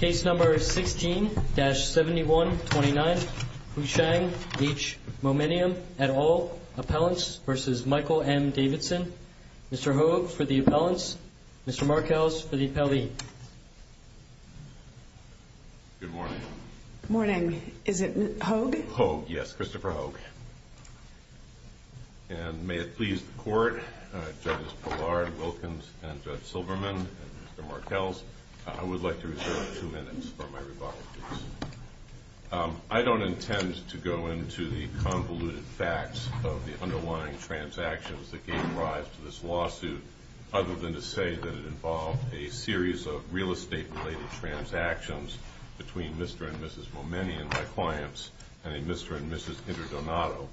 16-7129 Houshang H. Momenian, et al. Appellants v. Michael M. Davidson Mr. Hogue for the appellants, Mr. Markels for the appellee Good morning. Good morning. Is it Hogue? Hogue, yes. Christopher Hogue. And may it please the court, Judges Pollard, Wilkins, and Judge Silverman, and Mr. Markels, I would like to reserve two minutes for my rebuttal, please. I don't intend to go into the convoluted facts of the underlying transactions that gave rise to this lawsuit, other than to say that it involved a series of real estate-related transactions between Mr. and Mrs. Momenian, my clients, and a Mr. and Mrs. Interdonato,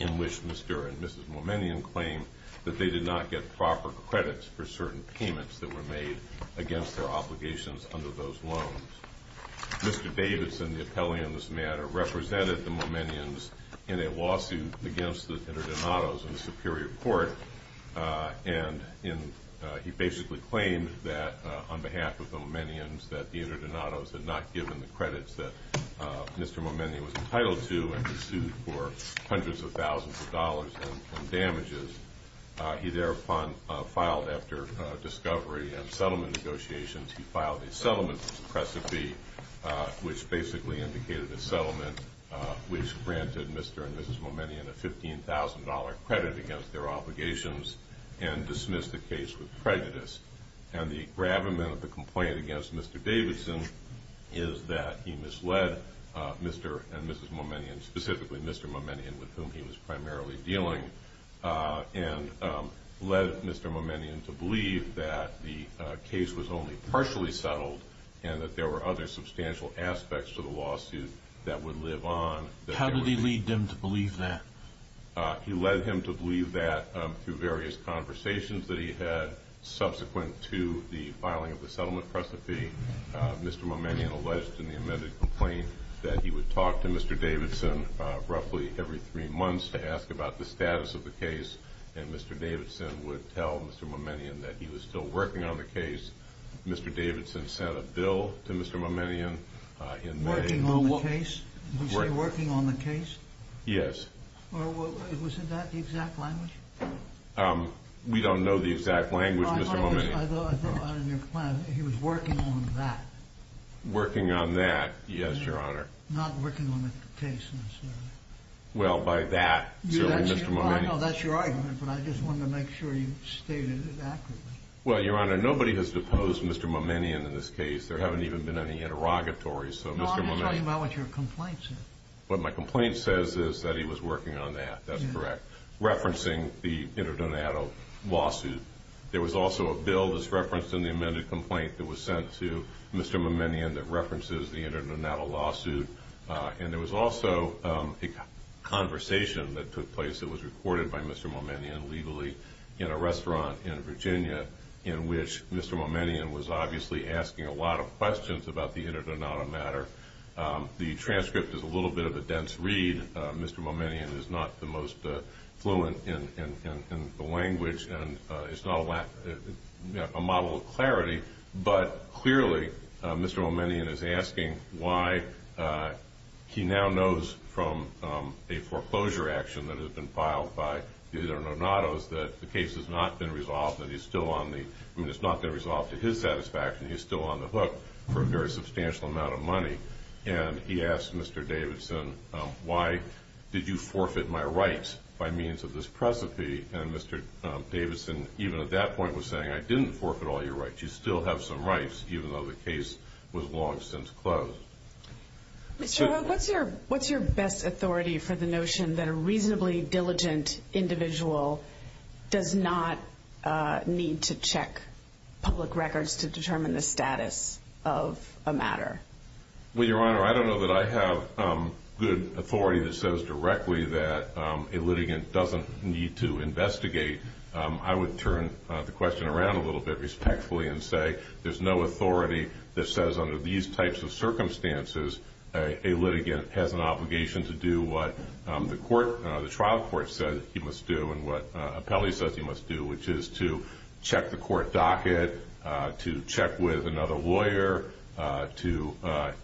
in which Mr. and Mrs. Momenian claimed that they did not get proper credits for certain payments that were made against their obligations under those loans. Mr. Davidson, the appellee on this matter, represented the Momenians in a lawsuit against the Interdonatos in the Superior Court, and he basically claimed that, on behalf of the Momenians, that the Interdonatos had not given the credits that Mr. Momenian was entitled to and were sued for hundreds of thousands of dollars in damages. He thereupon filed, after discovery and settlement negotiations, he filed a settlement for suppressive fee, which basically indicated a settlement which granted Mr. and Mrs. Momenian a $15,000 credit against their obligations and dismissed the case with prejudice. And the gravamen of the complaint against Mr. Davidson is that he misled Mr. and Mrs. Momenian, specifically Mr. Momenian, with whom he was primarily dealing, and led Mr. Momenian to believe that the case was only partially settled and that there were other substantial aspects to the lawsuit that would live on. How did he lead them to believe that? He led him to believe that through various conversations that he had subsequent to the filing of the settlement for suppressive fee. Mr. Momenian alleged in the amended complaint that he would talk to Mr. Davidson roughly every three months to ask about the status of the case, and Mr. Davidson would tell Mr. Momenian that he was still working on the case. Mr. Davidson sent a bill to Mr. Momenian in May. Working on the case? Working on the case? Yes. Was that the exact language? We don't know the exact language, Mr. Momenian. He was working on that. Working on that, yes, Your Honor. Not working on the case, necessarily. Well, by that, certainly, Mr. Momenian. I know that's your argument, but I just wanted to make sure you stated it accurately. Well, Your Honor, nobody has deposed Mr. Momenian in this case. There haven't even been any interrogatories. No, I'm just talking about what your complaint says. What my complaint says is that he was working on that. That's correct. Referencing the Interdonado lawsuit. There was also a bill that's referenced in the amended complaint that was sent to Mr. Momenian that references the Interdonado lawsuit, and there was also a conversation that took place that was recorded by Mr. Momenian legally in a restaurant in Virginia in which Mr. Momenian was obviously asking a lot of questions about the Interdonado matter. The transcript is a little bit of a dense read. Mr. Momenian is not the most fluent in the language, and it's not a model of clarity, but clearly Mr. Momenian is asking why he now knows from a foreclosure action that has been filed by the Interdonados that the case has not been resolved, that he's still on the hook for a very substantial amount of money. And he asked Mr. Davidson, why did you forfeit my rights by means of this precipice? And Mr. Davidson, even at that point, was saying, I didn't forfeit all your rights. You still have some rights, even though the case was long since closed. Mr. Howard, what's your best authority for the notion that a reasonably diligent individual does not need to check public records to determine the status of a matter? Well, Your Honor, I don't know that I have good authority that says directly that a litigant doesn't need to investigate. I would turn the question around a little bit respectfully and say there's no authority that says under these types of circumstances a litigant has an obligation to do what the trial court said he must do and what an appellee says he must do, which is to check the court docket, to check with another lawyer, to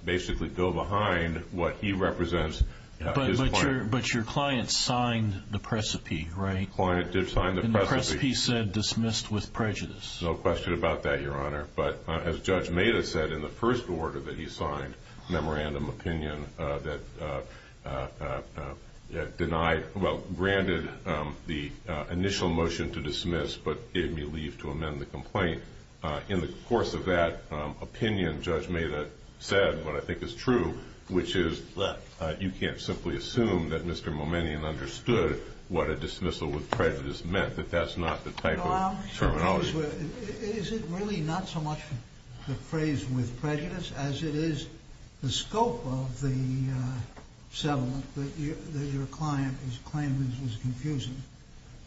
basically go behind what he represents. But your client signed the precipice, right? The client did sign the precipice. And the precipice said dismissed with prejudice. No question about that, Your Honor. But as Judge Meda said in the first order that he signed, memorandum opinion that denied, well, granted the initial motion to dismiss but gave me leave to amend the complaint. In the course of that opinion, Judge Meda said what I think is true, which is that you can't simply assume that Mr. Momenian understood what a dismissal with prejudice meant, that that's not the type of terminology. Is it really not so much the phrase with prejudice as it is the scope of the settlement that your client is claiming is confusing?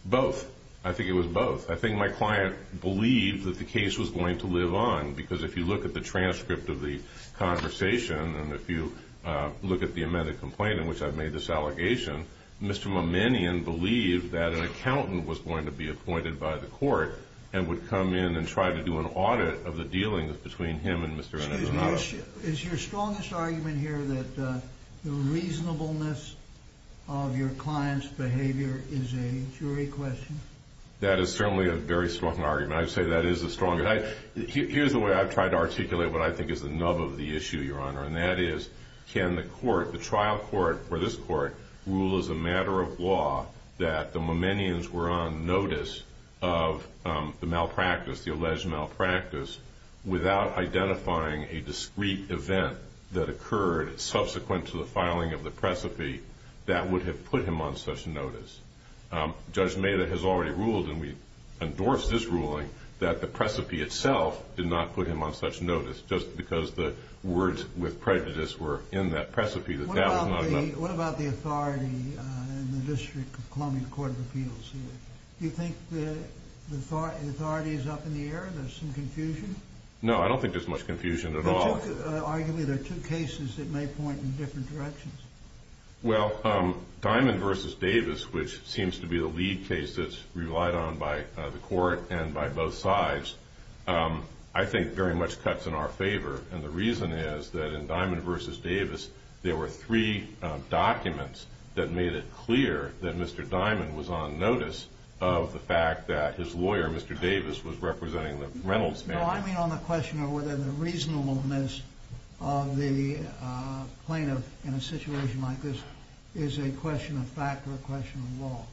Both. I think it was both. I think my client believed that the case was going to live on because if you look at the transcript of the conversation and if you look at the amended complaint in which I've made this allegation, Mr. Momenian believed that an accountant was going to be appointed by the court and would come in and try to do an audit of the dealings between him and Mr. Inez Arrado. Excuse me. Is your strongest argument here that the reasonableness of your client's behavior is a jury question? That is certainly a very strong argument. I'd say that is a strong argument. Here's the way I've tried to articulate what I think is the nub of the issue, Your Honor, and that is can the trial court or this court rule as a matter of law that the Momenians were on notice of the malpractice, the alleged malpractice, without identifying a discreet event that occurred subsequent to the filing of the precipe that would have put him on such notice? Judge Maida has already ruled, and we endorse this ruling, that the precipice itself did not put him on such notice just because the words with prejudice were in that precipice. What about the authority in the District of Columbia Court of Appeals here? Do you think the authority is up in the air? There's some confusion? No, I don't think there's much confusion at all. Arguably, there are two cases that may point in different directions. Well, Diamond v. Davis, which seems to be the lead case that's relied on by the court and by both sides, I think very much cuts in our favor, and the reason is that in Diamond v. Davis, there were three documents that made it clear that Mr. Diamond was on notice of the fact that his lawyer, Mr. Davis, was representing the Reynolds family. No, I mean on the question of whether the reasonableness of the plaintiff in a situation like this is a question of fact or a question of law.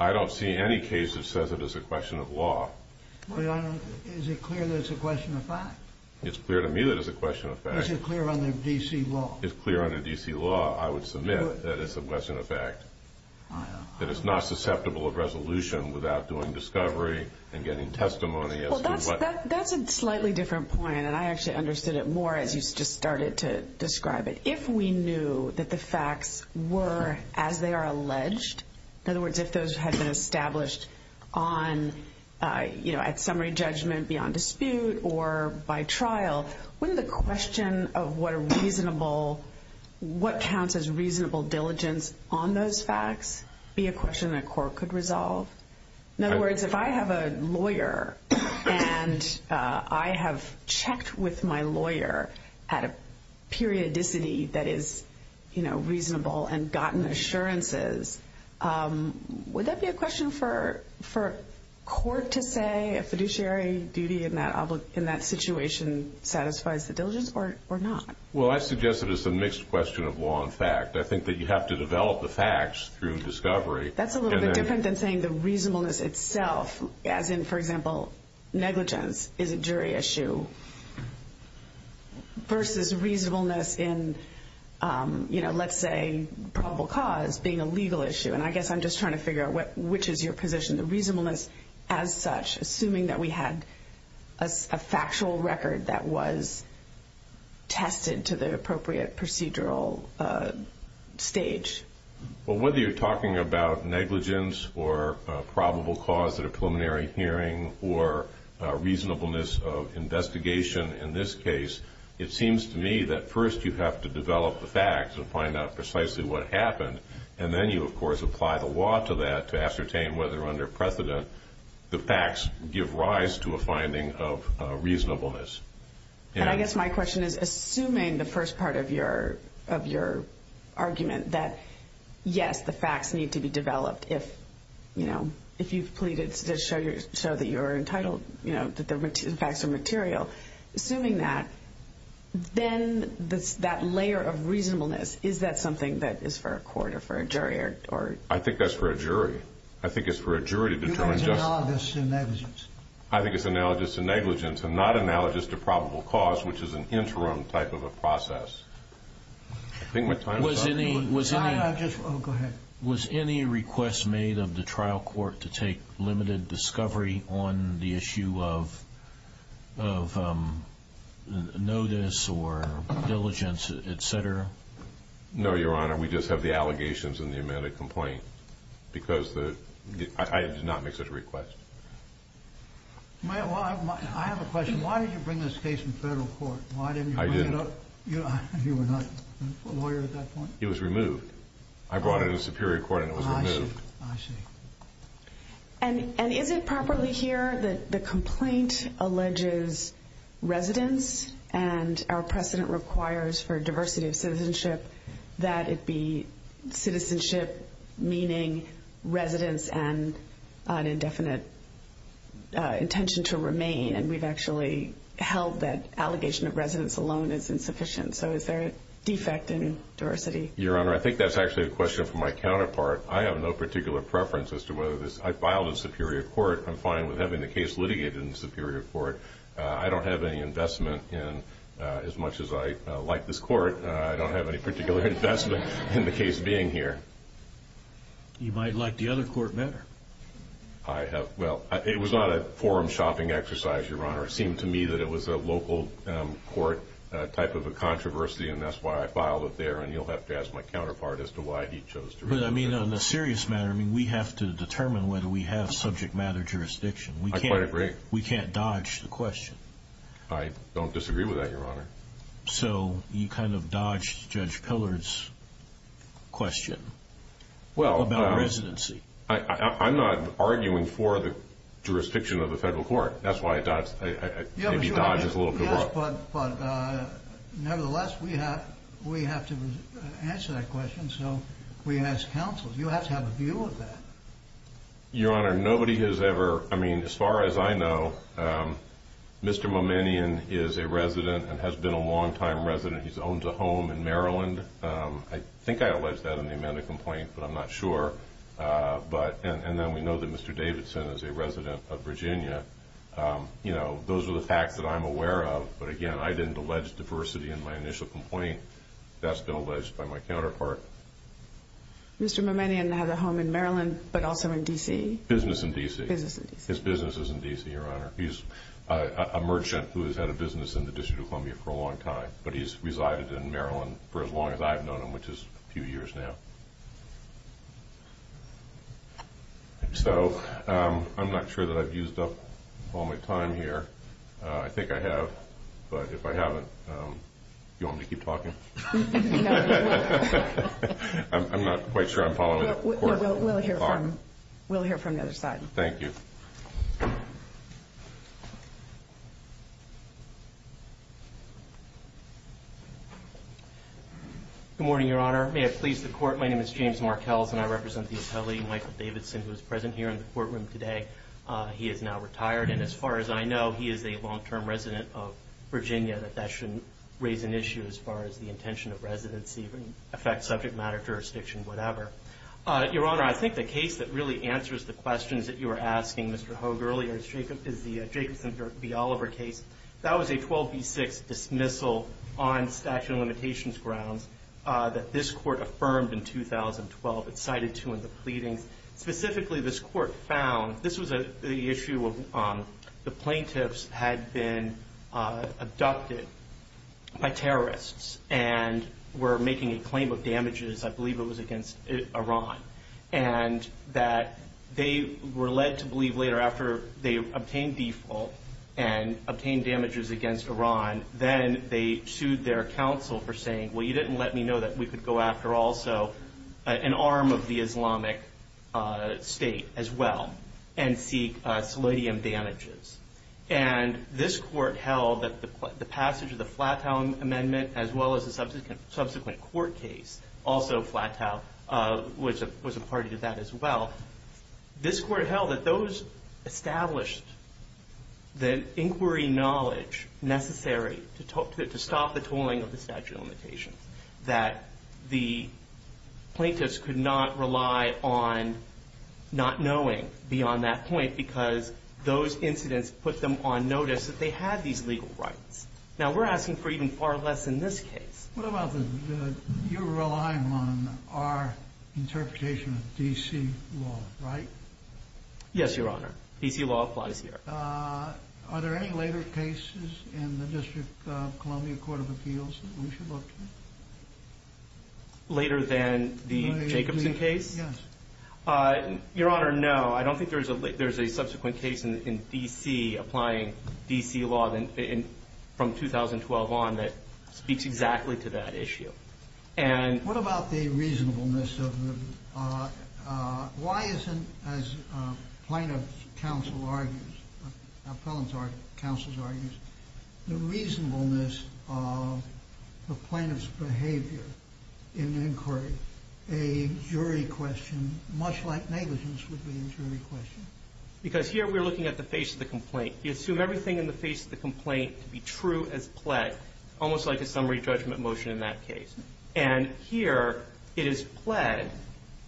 I don't see any case that says it is a question of law. Well, Your Honor, is it clear that it's a question of fact? It's clear to me that it's a question of fact. Is it clear under D.C. law? It's clear under D.C. law, I would submit, that it's a question of fact, that it's not susceptible of resolution without doing discovery and getting testimony. Well, that's a slightly different point, and I actually understood it more as you just started to describe it. If we knew that the facts were as they are alleged, in other words, if those had been established at summary judgment beyond dispute or by trial, wouldn't the question of what counts as reasonable diligence on those facts be a question that court could resolve? In other words, if I have a lawyer and I have checked with my lawyer at a periodicity that is reasonable and gotten assurances, would that be a question for court to say a fiduciary duty in that situation satisfies the diligence or not? Well, I suggest that it's a mixed question of law and fact. I think that you have to develop the facts through discovery. That's a little bit different than saying the reasonableness itself, as in, for example, negligence is a jury issue versus reasonableness in, let's say, probable cause being a legal issue. And I guess I'm just trying to figure out which is your position, the reasonableness as such, assuming that we had a factual record that was tested to the appropriate procedural stage. Well, whether you're talking about negligence or probable cause at a preliminary hearing or reasonableness of investigation in this case, it seems to me that first you have to develop the facts and find out precisely what happened, and then you, of course, apply the law to that to ascertain whether under precedent the facts give rise to a finding of reasonableness. And I guess my question is, assuming the first part of your argument that, yes, the facts need to be developed if you've pleaded to show that you're entitled, that the facts are material, assuming that, then that layer of reasonableness, is that something that is for a court or for a jury? I think that's for a jury. I think it's for a jury to determine justice. You mean analogous to negligence? I think it's analogous to negligence and not analogous to probable cause, which is an interim type of a process. I think my time is up. Was any request made of the trial court to take limited discovery on the issue of notice or diligence, et cetera? No, Your Honor. We just have the allegations in the amended complaint because I did not make such a request. I have a question. Why did you bring this case in federal court? I did. Why didn't you bring it up? You were not a lawyer at that point? It was removed. I brought it in the superior court and it was removed. I see. I see. that it be citizenship, meaning residence and an indefinite intention to remain, and we've actually held that allegation of residence alone is insufficient. So is there a defect in diversity? Your Honor, I think that's actually a question for my counterpart. I have no particular preference as to whether this – I filed in superior court. I'm fine with having the case litigated in superior court. I don't have any investment in, as much as I like this court, I don't have any particular investment in the case being here. You might like the other court better. I have – well, it was not a forum shopping exercise, Your Honor. It seemed to me that it was a local court type of a controversy, and that's why I filed it there, and you'll have to ask my counterpart as to why he chose to remove it. But, I mean, on a serious matter, I mean, we have to determine whether we have subject matter jurisdiction. I quite agree. We can't dodge the question. I don't disagree with that, Your Honor. So you kind of dodged Judge Pillard's question about residency. Well, I'm not arguing for the jurisdiction of the federal court. That's why I dodged – maybe dodged it a little bit more. Yes, but nevertheless, we have to answer that question, so we ask counsel. You have to have a view of that. Your Honor, nobody has ever – I mean, as far as I know, Mr. Momenian is a resident and has been a longtime resident. He owns a home in Maryland. I think I alleged that in the amended complaint, but I'm not sure. And then we know that Mr. Davidson is a resident of Virginia. You know, those are the facts that I'm aware of. But, again, I didn't allege diversity in my initial complaint. That's been alleged by my counterpart. Mr. Momenian has a home in Maryland but also in D.C.? Business in D.C. Business in D.C. His business is in D.C., Your Honor. He's a merchant who has had a business in the District of Columbia for a long time, but he's resided in Maryland for as long as I've known him, which is a few years now. So I'm not sure that I've used up all my time here. I think I have, but if I haven't, do you want me to keep talking? I'm not quite sure I'm following the court. We'll hear from the other side. Thank you. Good morning, Your Honor. May it please the Court, my name is James Markels, and I represent the attorney, Michael Davidson, who is present here in the courtroom today. He is now retired, and as far as I know, he is a long-term resident of Virginia. That shouldn't raise an issue as far as the intention of residency, affect subject matter, jurisdiction, whatever. Your Honor, I think the case that really answers the questions that you were asking, Mr. Hogue, earlier is the Jacobson v. Oliver case. That was a 12 v. 6 dismissal on statute of limitations grounds that this court affirmed in 2012. It's cited too in the pleadings. Specifically, this court found this was the issue of the plaintiffs had been abducted by terrorists and were making a claim of damages, I believe it was against Iran, and that they were led to believe later after they obtained default and obtained damages against Iran, then they sued their counsel for saying, well, you didn't let me know that we could go after also an arm of the Islamic State as well and seek selidium damages. And this court held that the passage of the Flatow Amendment as well as the subsequent court case, also Flatow, was a party to that as well. This court held that those established the inquiry knowledge necessary to stop the tolling of the statute of limitations, that the plaintiffs could not rely on not knowing beyond that point because those incidents put them on notice that they had these legal rights. Now, we're asking for even far less in this case. What about the you're relying on our interpretation of D.C. law, right? Yes, Your Honor. D.C. law applies here. Are there any later cases in the District of Columbia Court of Appeals that we should look at? Later than the Jacobson case? Yes. Your Honor, no. I don't think there's a subsequent case in D.C. applying D.C. law from 2012 on that speaks exactly to that issue. What about the reasonableness of the why isn't, as plaintiff's counsel argues, the reasonableness of the plaintiff's behavior in inquiry? A jury question, much like negligence, would be a jury question. Because here we're looking at the face of the complaint. You assume everything in the face of the complaint to be true as pled, almost like a summary judgment motion in that case. And here it is pled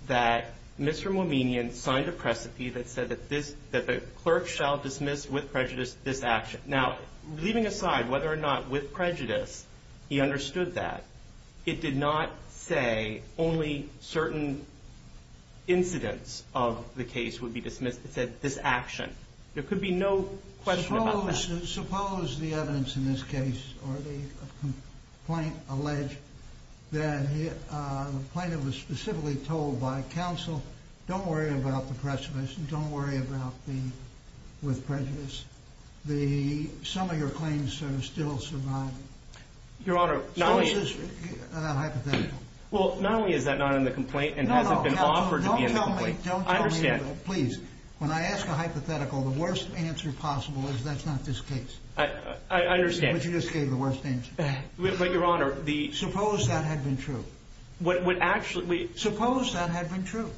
that Mr. Mouminian signed a precipice that said that the clerk shall dismiss with prejudice this action. Now, leaving aside whether or not with prejudice he understood that, it did not say only certain incidents of the case would be dismissed. It said this action. There could be no question about that. Suppose the evidence in this case or the complaint alleged that the plaintiff was specifically told by counsel, don't worry about the precipice and don't worry about the with prejudice. Some of your claims are still surviving. Your Honor, not only is that not in the complaint and hasn't been offered to be in the complaint. I understand. Please. When I ask a hypothetical, the worst answer possible is that's not this case. I understand. But you just gave the worst answer. But, Your Honor, the- Suppose that had been true. What would actually- Suppose that had been true.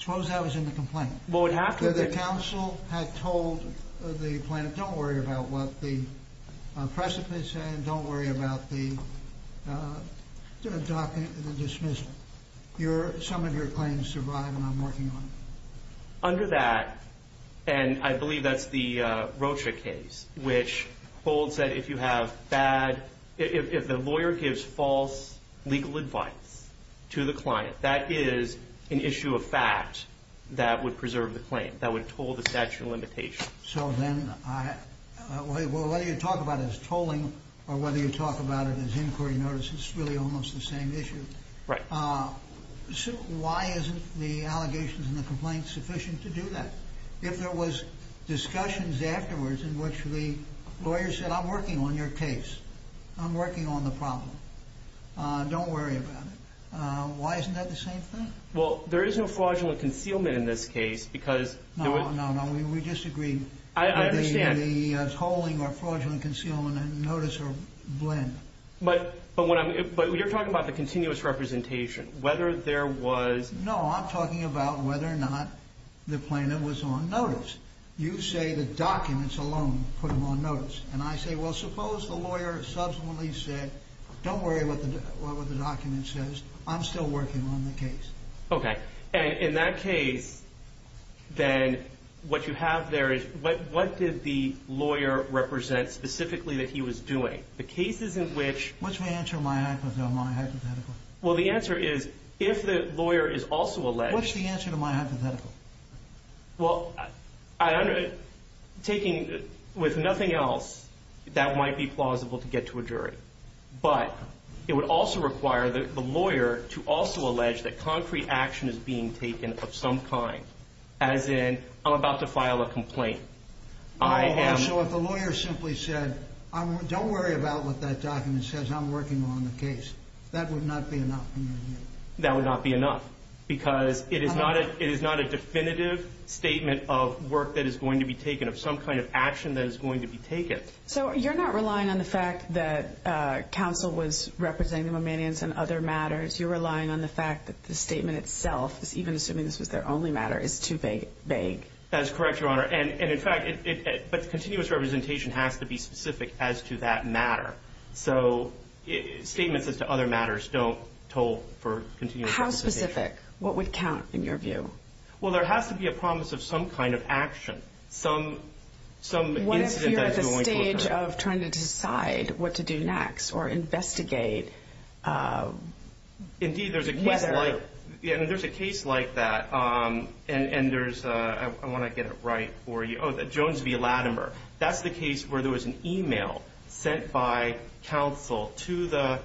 Suppose that was in the complaint. Well, it would have to- The counsel had told the plaintiff, don't worry about what the precipice said and don't worry about the dismissal. Some of your claims survive and I'm working on it. Under that, and I believe that's the Rocha case, which holds that if you have bad- If the lawyer gives false legal advice to the client, that is an issue of fact that would preserve the claim. That would toll the statute of limitations. So then, whether you talk about it as tolling or whether you talk about it as inquiry notice, it's really almost the same issue. Right. So why isn't the allegations in the complaint sufficient to do that? If there was discussions afterwards in which the lawyer said, I'm working on your case, I'm working on the problem, don't worry about it. Why isn't that the same thing? Well, there is no fraudulent concealment in this case because- No, no, no. We disagree. I understand. The tolling or fraudulent concealment and notice are a blend. But you're talking about the continuous representation, whether there was- No, I'm talking about whether or not the plaintiff was on notice. You say the documents alone put him on notice. And I say, well, suppose the lawyer subsequently said, don't worry about what the document says. I'm still working on the case. Okay. And in that case, then, what you have there is- What did the lawyer represent specifically that he was doing? The cases in which- What's the answer to my hypothetical? Well, the answer is, if the lawyer is also alleged- What's the answer to my hypothetical? Well, taking with nothing else, that might be plausible to get to a jury. But it would also require the lawyer to also allege that concrete action is being taken of some kind, as in, I'm about to file a complaint. So if the lawyer simply said, don't worry about what that document says. I'm working on the case. That would not be enough in your view? That would not be enough because it is not a definitive statement of work that is going to be taken, of some kind of action that is going to be taken. So you're not relying on the fact that counsel was representing the Mamanians in other matters. You're relying on the fact that the statement itself, even assuming this was their only matter, is too vague. That is correct, Your Honor. And, in fact, continuous representation has to be specific as to that matter. So statements as to other matters don't toll for continuous representation. How specific? What would count in your view? Well, there has to be a promise of some kind of action, some incident that is going to occur. What if you're at the stage of trying to decide what to do next or investigate whether- Indeed, there's a case like that. And there's- I want to get it right for you. Jones v. Latimer. That's the case where there was an email sent by counsel to the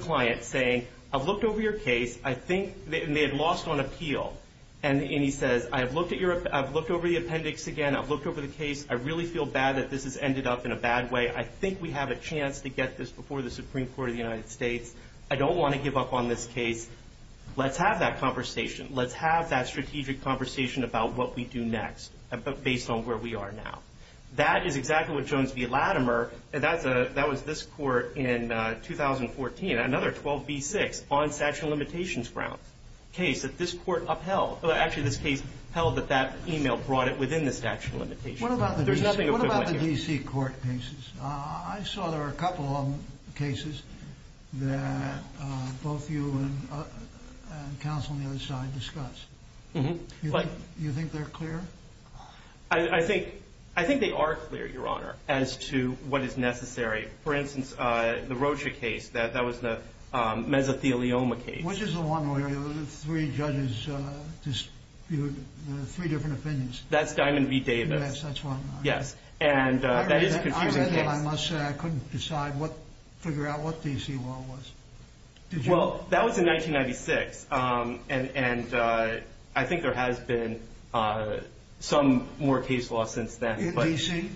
client saying, I've looked over your case. I think- and they had lost on appeal. And he says, I've looked over the appendix again. I've looked over the case. I really feel bad that this has ended up in a bad way. I think we have a chance to get this before the Supreme Court of the United States. I don't want to give up on this case. Let's have that conversation. Let's have that strategic conversation about what we do next based on where we are now. That is exactly what Jones v. Latimer- that was this court in 2014, another 12b-6 on statute of limitations grounds case that this court upheld. Actually, this case held that that email brought it within the statute of limitations. There's nothing equivalent here. What about the D.C. court cases? I saw there were a couple of cases that both you and counsel on the other side discussed. Do you think they're clear? I think they are clear, Your Honor, as to what is necessary. For instance, the Rocha case, that was the mesothelioma case. Which is the one where the three judges dispute three different opinions. That's Diamond v. Davis. Yes, that's one. Yes, and that is a confusing case. I must say I couldn't figure out what D.C. law was. Well, that was in 1996, and I think there has been some more case law since then. In D.C.?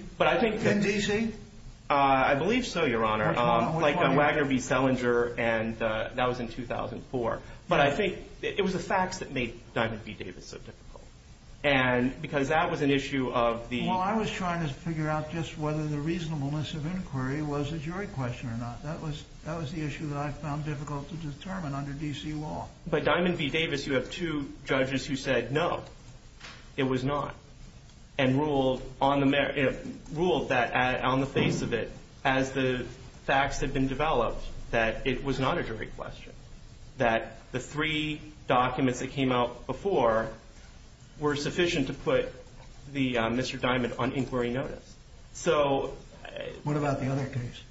I believe so, Your Honor. Like Wagner v. Selinger, and that was in 2004. But I think it was the facts that made Diamond v. Davis so difficult. Because that was an issue of the- Well, I was trying to figure out just whether the reasonableness of inquiry was a jury question or not. That was the issue that I found difficult to determine under D.C. law. But Diamond v. Davis, you have two judges who said no, it was not. And ruled that on the face of it, as the facts had been developed, that it was not a jury question. That the three documents that came out before were sufficient to put Mr. Diamond on inquiry notice. So- What about the other case?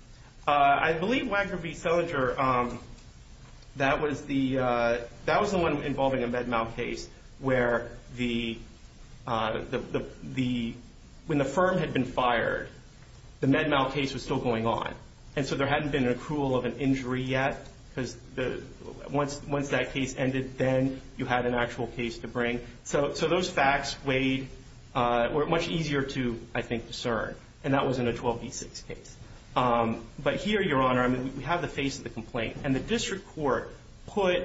I believe Wagner v. Selinger, that was the one involving a Med-Mal case where the- When the firm had been fired, the Med-Mal case was still going on. And so there hadn't been an accrual of an injury yet. Because once that case ended, then you had an actual case to bring. So those facts weighed- were much easier to, I think, discern. And that was in a 12 v. 6 case. But here, Your Honor, we have the face of the complaint. And the district court put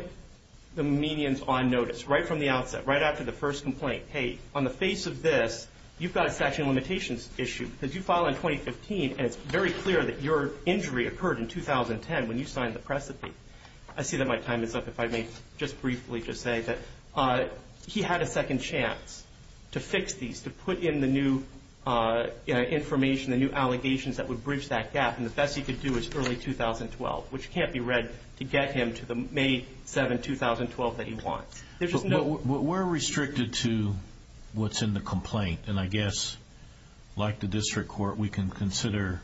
the medians on notice right from the outset, right after the first complaint. Hey, on the face of this, you've got a statute of limitations issue. Because you filed in 2015, and it's very clear that your injury occurred in 2010 when you signed the precipice. I see that my time is up, if I may just briefly just say that he had a second chance to fix these, to put in the new information, the new allegations that would bridge that gap. And the best he could do is early 2012, which can't be read to get him to the May 7, 2012 that he wants. We're restricted to what's in the complaint. And I guess, like the district court, we can consider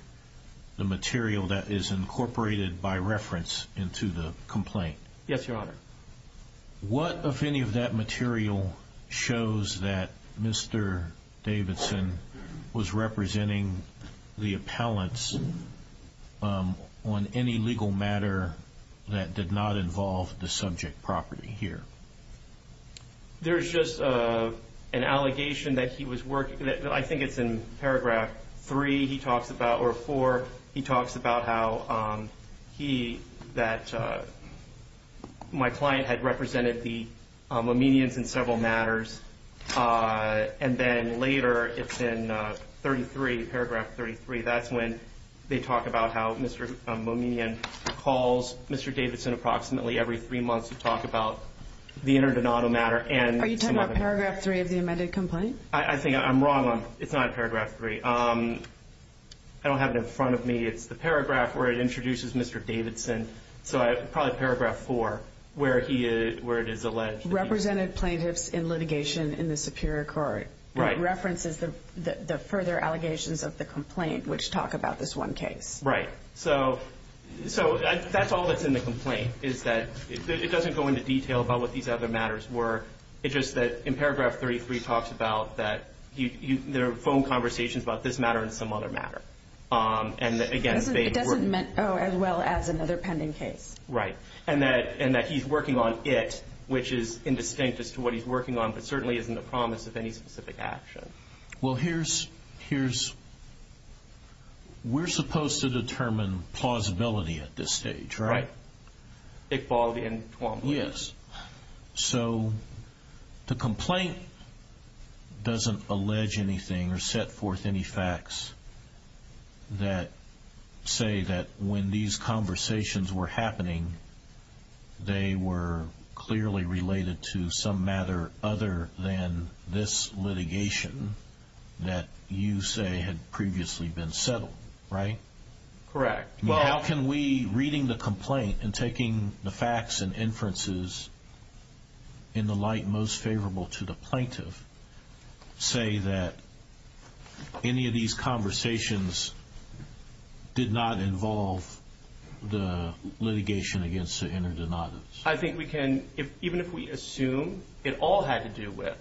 the material that is incorporated by reference into the complaint. Yes, Your Honor. What, if any, of that material shows that Mr. Davidson was representing the appellants on any legal matter that did not involve the subject property here? There's just an allegation that he was working, I think it's in paragraph 3 he talks about, or 4, he talks about how he, that my client had represented the Mominians in several matters. And then later, it's in paragraph 33, that's when they talk about how Mr. Mominian calls Mr. Davidson approximately every three months to talk about the Interdonado matter. Are you talking about paragraph 3 of the amended complaint? I think I'm wrong on, it's not paragraph 3. I don't have it in front of me. It's the paragraph where it introduces Mr. Davidson. So probably paragraph 4, where it is alleged. Represented plaintiffs in litigation in the superior court. Right. It references the further allegations of the complaint, which talk about this one case. Right. So that's all that's in the complaint, is that it doesn't go into detail about what these other matters were. It's just that in paragraph 33, it talks about that there are phone conversations about this matter and some other matter. And again, it doesn't work. It doesn't as well as another pending case. Right. And that he's working on it, which is indistinct as to what he's working on, but certainly isn't a promise of any specific action. Well, here's, we're supposed to determine plausibility at this stage, right? Right. Iqbal and Twombly. Yes. So the complaint doesn't allege anything or set forth any facts that say that when these conversations were happening, they were clearly related to some matter other than this litigation that you say had previously been settled, right? Correct. How can we, reading the complaint and taking the facts and inferences in the light most favorable to the plaintiff, say that any of these conversations did not involve the litigation against the inner denoters? I think we can, even if we assume it all had to do with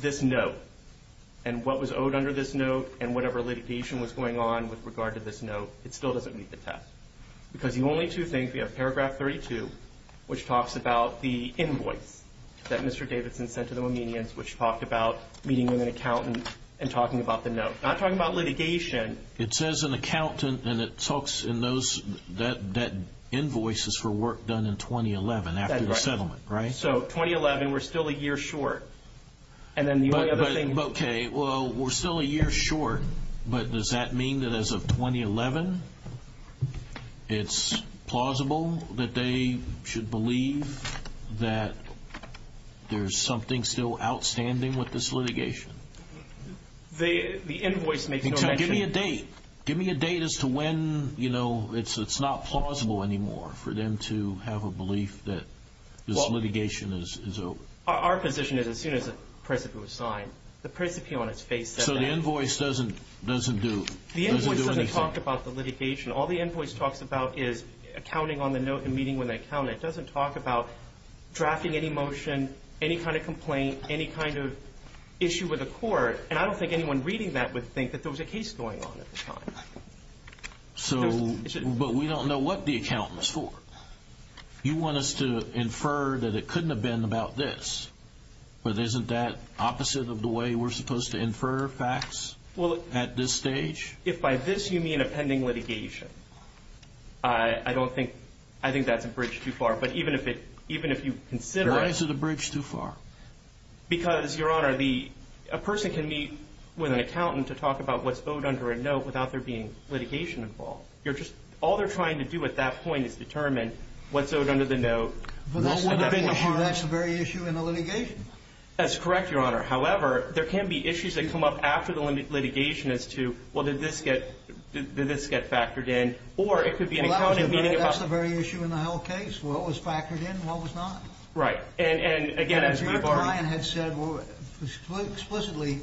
this note and what was owed under this note and whatever litigation was going on with regard to this note, it still doesn't meet the test. Because the only two things, we have paragraph 32, which talks about the invoice that Mr. Davidson sent to the Dominions, which talked about meeting with an accountant and talking about the note. Not talking about litigation. It says an accountant, and it talks in those, that invoice is for work done in 2011 after the settlement, right? So 2011, we're still a year short. Okay, well, we're still a year short, but does that mean that as of 2011, it's plausible that they should believe that there's something still outstanding with this litigation? The invoice makes no mention. Give me a date. Give me a date as to when it's not plausible anymore for them to have a belief that this litigation is over. Our position is as soon as the percipient was signed. The percipient, on its face, said that. So the invoice doesn't do anything? The invoice doesn't talk about the litigation. All the invoice talks about is accounting on the note and meeting with an accountant. It doesn't talk about drafting any motion, any kind of complaint, any kind of issue with the court. And I don't think anyone reading that would think that there was a case going on at the time. But we don't know what the accountant was for. You want us to infer that it couldn't have been about this, but isn't that opposite of the way we're supposed to infer facts at this stage? If by this you mean a pending litigation, I think that's a bridge too far. But even if you consider it. Why is it a bridge too far? Because, Your Honor, a person can meet with an accountant to talk about what's owed under a note without there being litigation involved. All they're trying to do at that point is determine what's owed under the note. That's the very issue in the litigation. That's correct, Your Honor. However, there can be issues that come up after the litigation as to, well, did this get factored in? Or it could be an accountant meeting about. That's the very issue in the whole case. What was factored in and what was not. Right. And, again, as you've already. Mr. O'Brien had said explicitly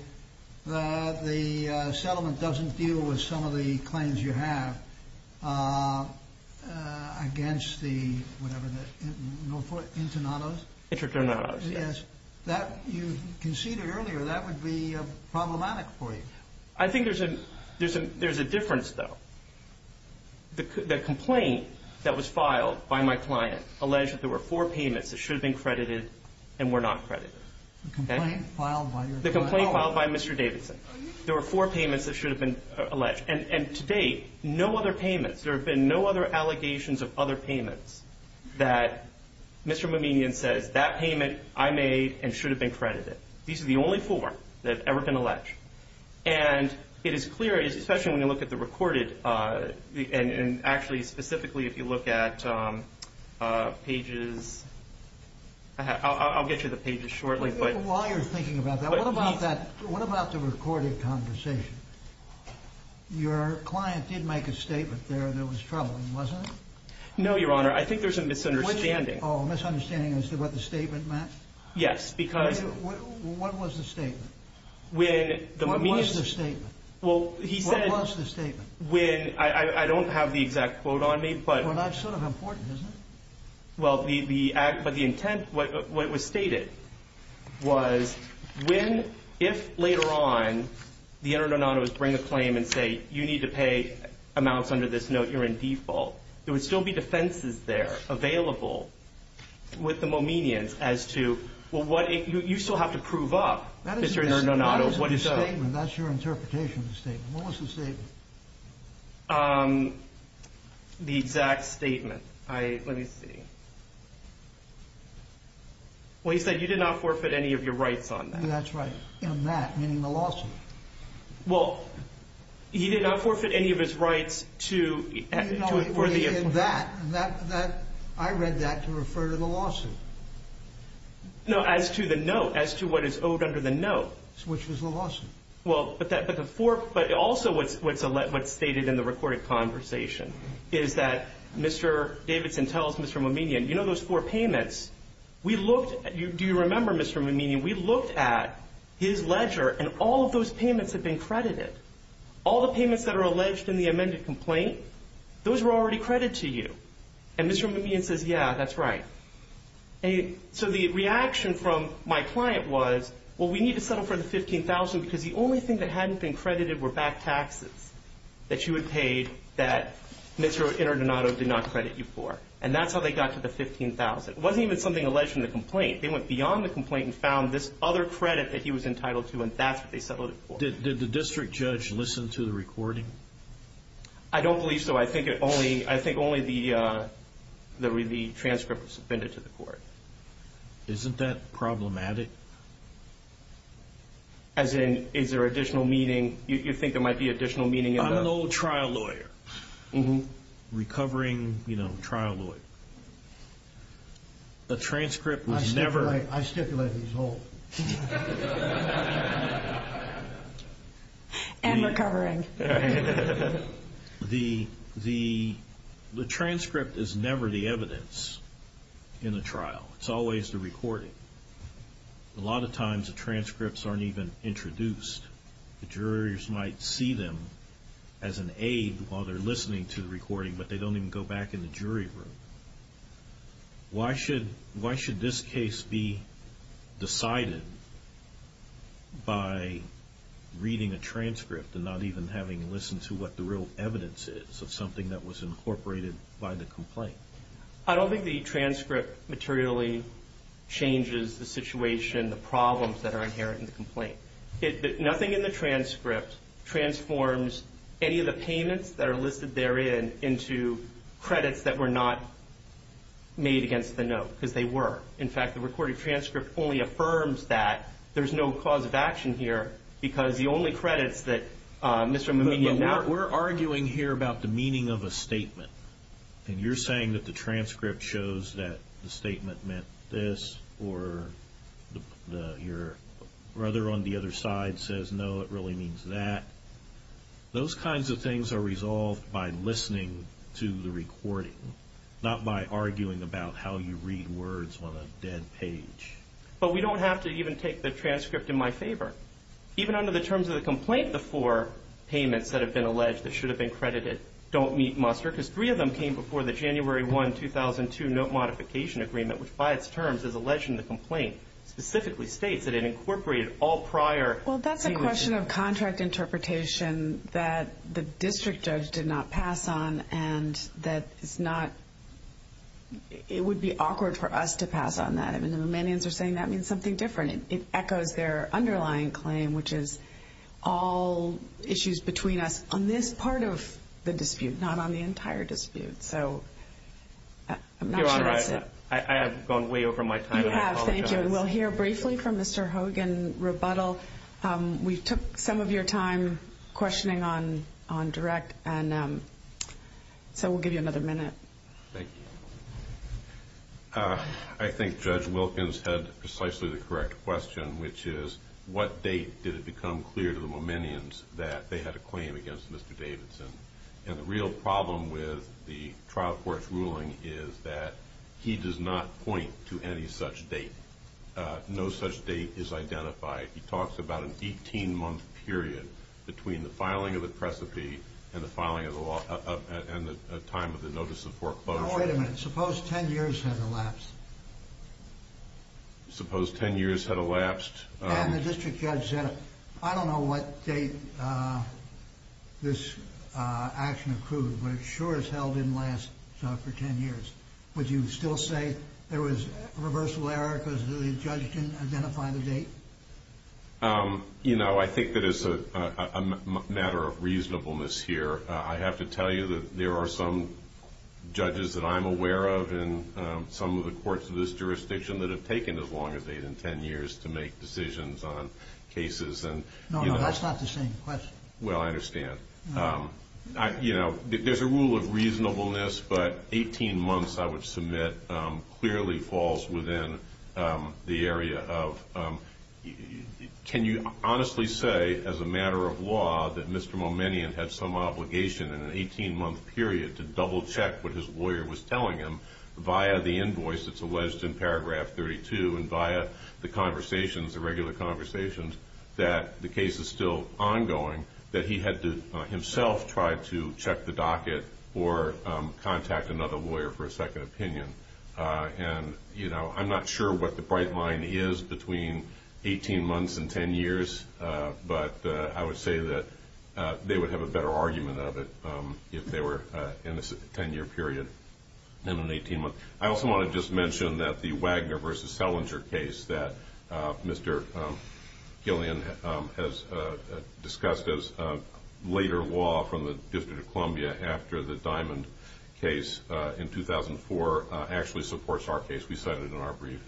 that the settlement doesn't deal with some of the claims you have against the, whatever the, internados? Interternados, yes. Yes. You conceded earlier that would be problematic for you. I think there's a difference, though. The complaint that was filed by my client alleged that there were four payments that should have been credited and were not credited. The complaint filed by your client? The complaint filed by Mr. Davidson. There were four payments that should have been alleged. And to date, no other payments. There have been no other allegations of other payments that Mr. Mouminian says, that payment I made and should have been credited. These are the only four that have ever been alleged. And it is clear, especially when you look at the recorded, and actually specifically if you look at pages, I'll get you the pages shortly. While you're thinking about that, what about the recorded conversation? Your client did make a statement there that was troubling, wasn't it? No, Your Honor. I think there's a misunderstanding. A misunderstanding as to what the statement meant? Yes, because. What was the statement? What was the statement? Well, he said. What was the statement? I don't have the exact quote on me, but. Well, that's sort of important, isn't it? Well, but the intent, what was stated, was when, if later on, the Interim Donato would bring a claim and say, you need to pay amounts under this note, you're in default, there would still be defenses there available with the Mouminians as to, you still have to prove up, Mr. Interim Donato. That's your interpretation of the statement. What was the statement? The exact statement. Let me see. Well, he said you did not forfeit any of your rights on that. That's right. And that, meaning the lawsuit. Well, he did not forfeit any of his rights to. I read that to refer to the lawsuit. No, as to the note, as to what is owed under the note. Which was the lawsuit. Well, but also what's stated in the recorded conversation is that Mr. Davidson tells Mr. Mouminian, you know those four payments, we looked at, do you remember, Mr. Mouminian, we looked at his ledger and all of those payments had been credited. All the payments that are alleged in the amended complaint, those were already credited to you. And Mr. Mouminian says, yeah, that's right. So the reaction from my client was, well, we need to settle for the $15,000 because the only thing that hadn't been credited were back taxes that you had paid that Mr. Interim Donato did not credit you for. And that's how they got to the $15,000. It wasn't even something alleged in the complaint. They went beyond the complaint and found this other credit that he was entitled to and that's what they settled it for. Well, did the district judge listen to the recording? I don't believe so. I think only the transcript was submitted to the court. Isn't that problematic? As in, is there additional meaning? You think there might be additional meaning? I'm an old trial lawyer. Recovering, you know, trial lawyer. The transcript was never. I stipulate he's old. And recovering. The transcript is never the evidence in the trial. It's always the recording. A lot of times the transcripts aren't even introduced. The jurors might see them as an aid while they're listening to the recording, but they don't even go back in the jury room. Why should this case be decided by reading a transcript and not even having listened to what the real evidence is of something that was incorporated by the complaint? I don't think the transcript materially changes the situation, the problems that are inherent in the complaint. Nothing in the transcript transforms any of the payments that are listed therein into credits that were not made against the note, because they were. In fact, the recorded transcript only affirms that. There's no cause of action here because the only credits that Mr. Muminian We're arguing here about the meaning of a statement, and you're saying that the transcript shows that the statement meant this, or your brother on the other side says, no, it really means that. Those kinds of things are resolved by listening to the recording, not by arguing about how you read words on a dead page. But we don't have to even take the transcript in my favor. Even under the terms of the complaint, the four payments that have been alleged that should have been credited don't meet muster because three of them came before the January 1, 2002 note modification agreement, which by its terms is alleged in the complaint, specifically states that it incorporated all prior. Well, that's a question of contract interpretation that the district judge did not pass on, and that it's not, it would be awkward for us to pass on that. I mean, the Muminians are saying that means something different. It echoes their underlying claim, which is all issues between us on this part of the dispute, not on the entire dispute. So I'm not sure that's it. Your Honor, I have gone way over my time. You have, thank you. We'll hear briefly from Mr. Hogan, rebuttal. We took some of your time questioning on direct, and so we'll give you another minute. Thank you. I think Judge Wilkins had precisely the correct question, which is, what date did it become clear to the Muminians that they had a claim against Mr. Davidson? And the real problem with the trial court's ruling is that he does not point to any such date. No such date is identified. He talks about an 18-month period between the filing of the precipice and the time of the notice of foreclosure. Now, wait a minute. Suppose 10 years had elapsed. Suppose 10 years had elapsed. And the district judge said, I don't know what date this action occurred, but it sure as hell didn't last for 10 years. Would you still say there was a reversal error because the judge didn't identify the date? You know, I think that it's a matter of reasonableness here. I have to tell you that there are some judges that I'm aware of in some of the courts of this jurisdiction that have taken as long as 8 and 10 years to make decisions on cases. No, no, that's not the same question. Well, I understand. You know, there's a rule of reasonableness, but 18 months, I would submit, clearly falls within the area of can you honestly say as a matter of law that Mr. Muminian had some obligation in an 18-month period to double-check what his lawyer was telling him via the invoice that's alleged in paragraph 32 and via the conversations, the regular conversations, that the case is still ongoing, that he had to himself try to check the docket or contact another lawyer for a second opinion. And, you know, I'm not sure what the bright line is between 18 months and 10 years, but I would say that they would have a better argument of it if they were in a 10-year period than an 18-month. I also want to just mention that the Wagner v. Selinger case that Mr. Gillian has discussed as later law from the District of Columbia after the Diamond case in 2004 actually supports our case. We cited it in our brief.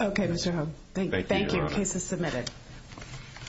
Okay, Mr. Hogue. Thank you. The case is submitted.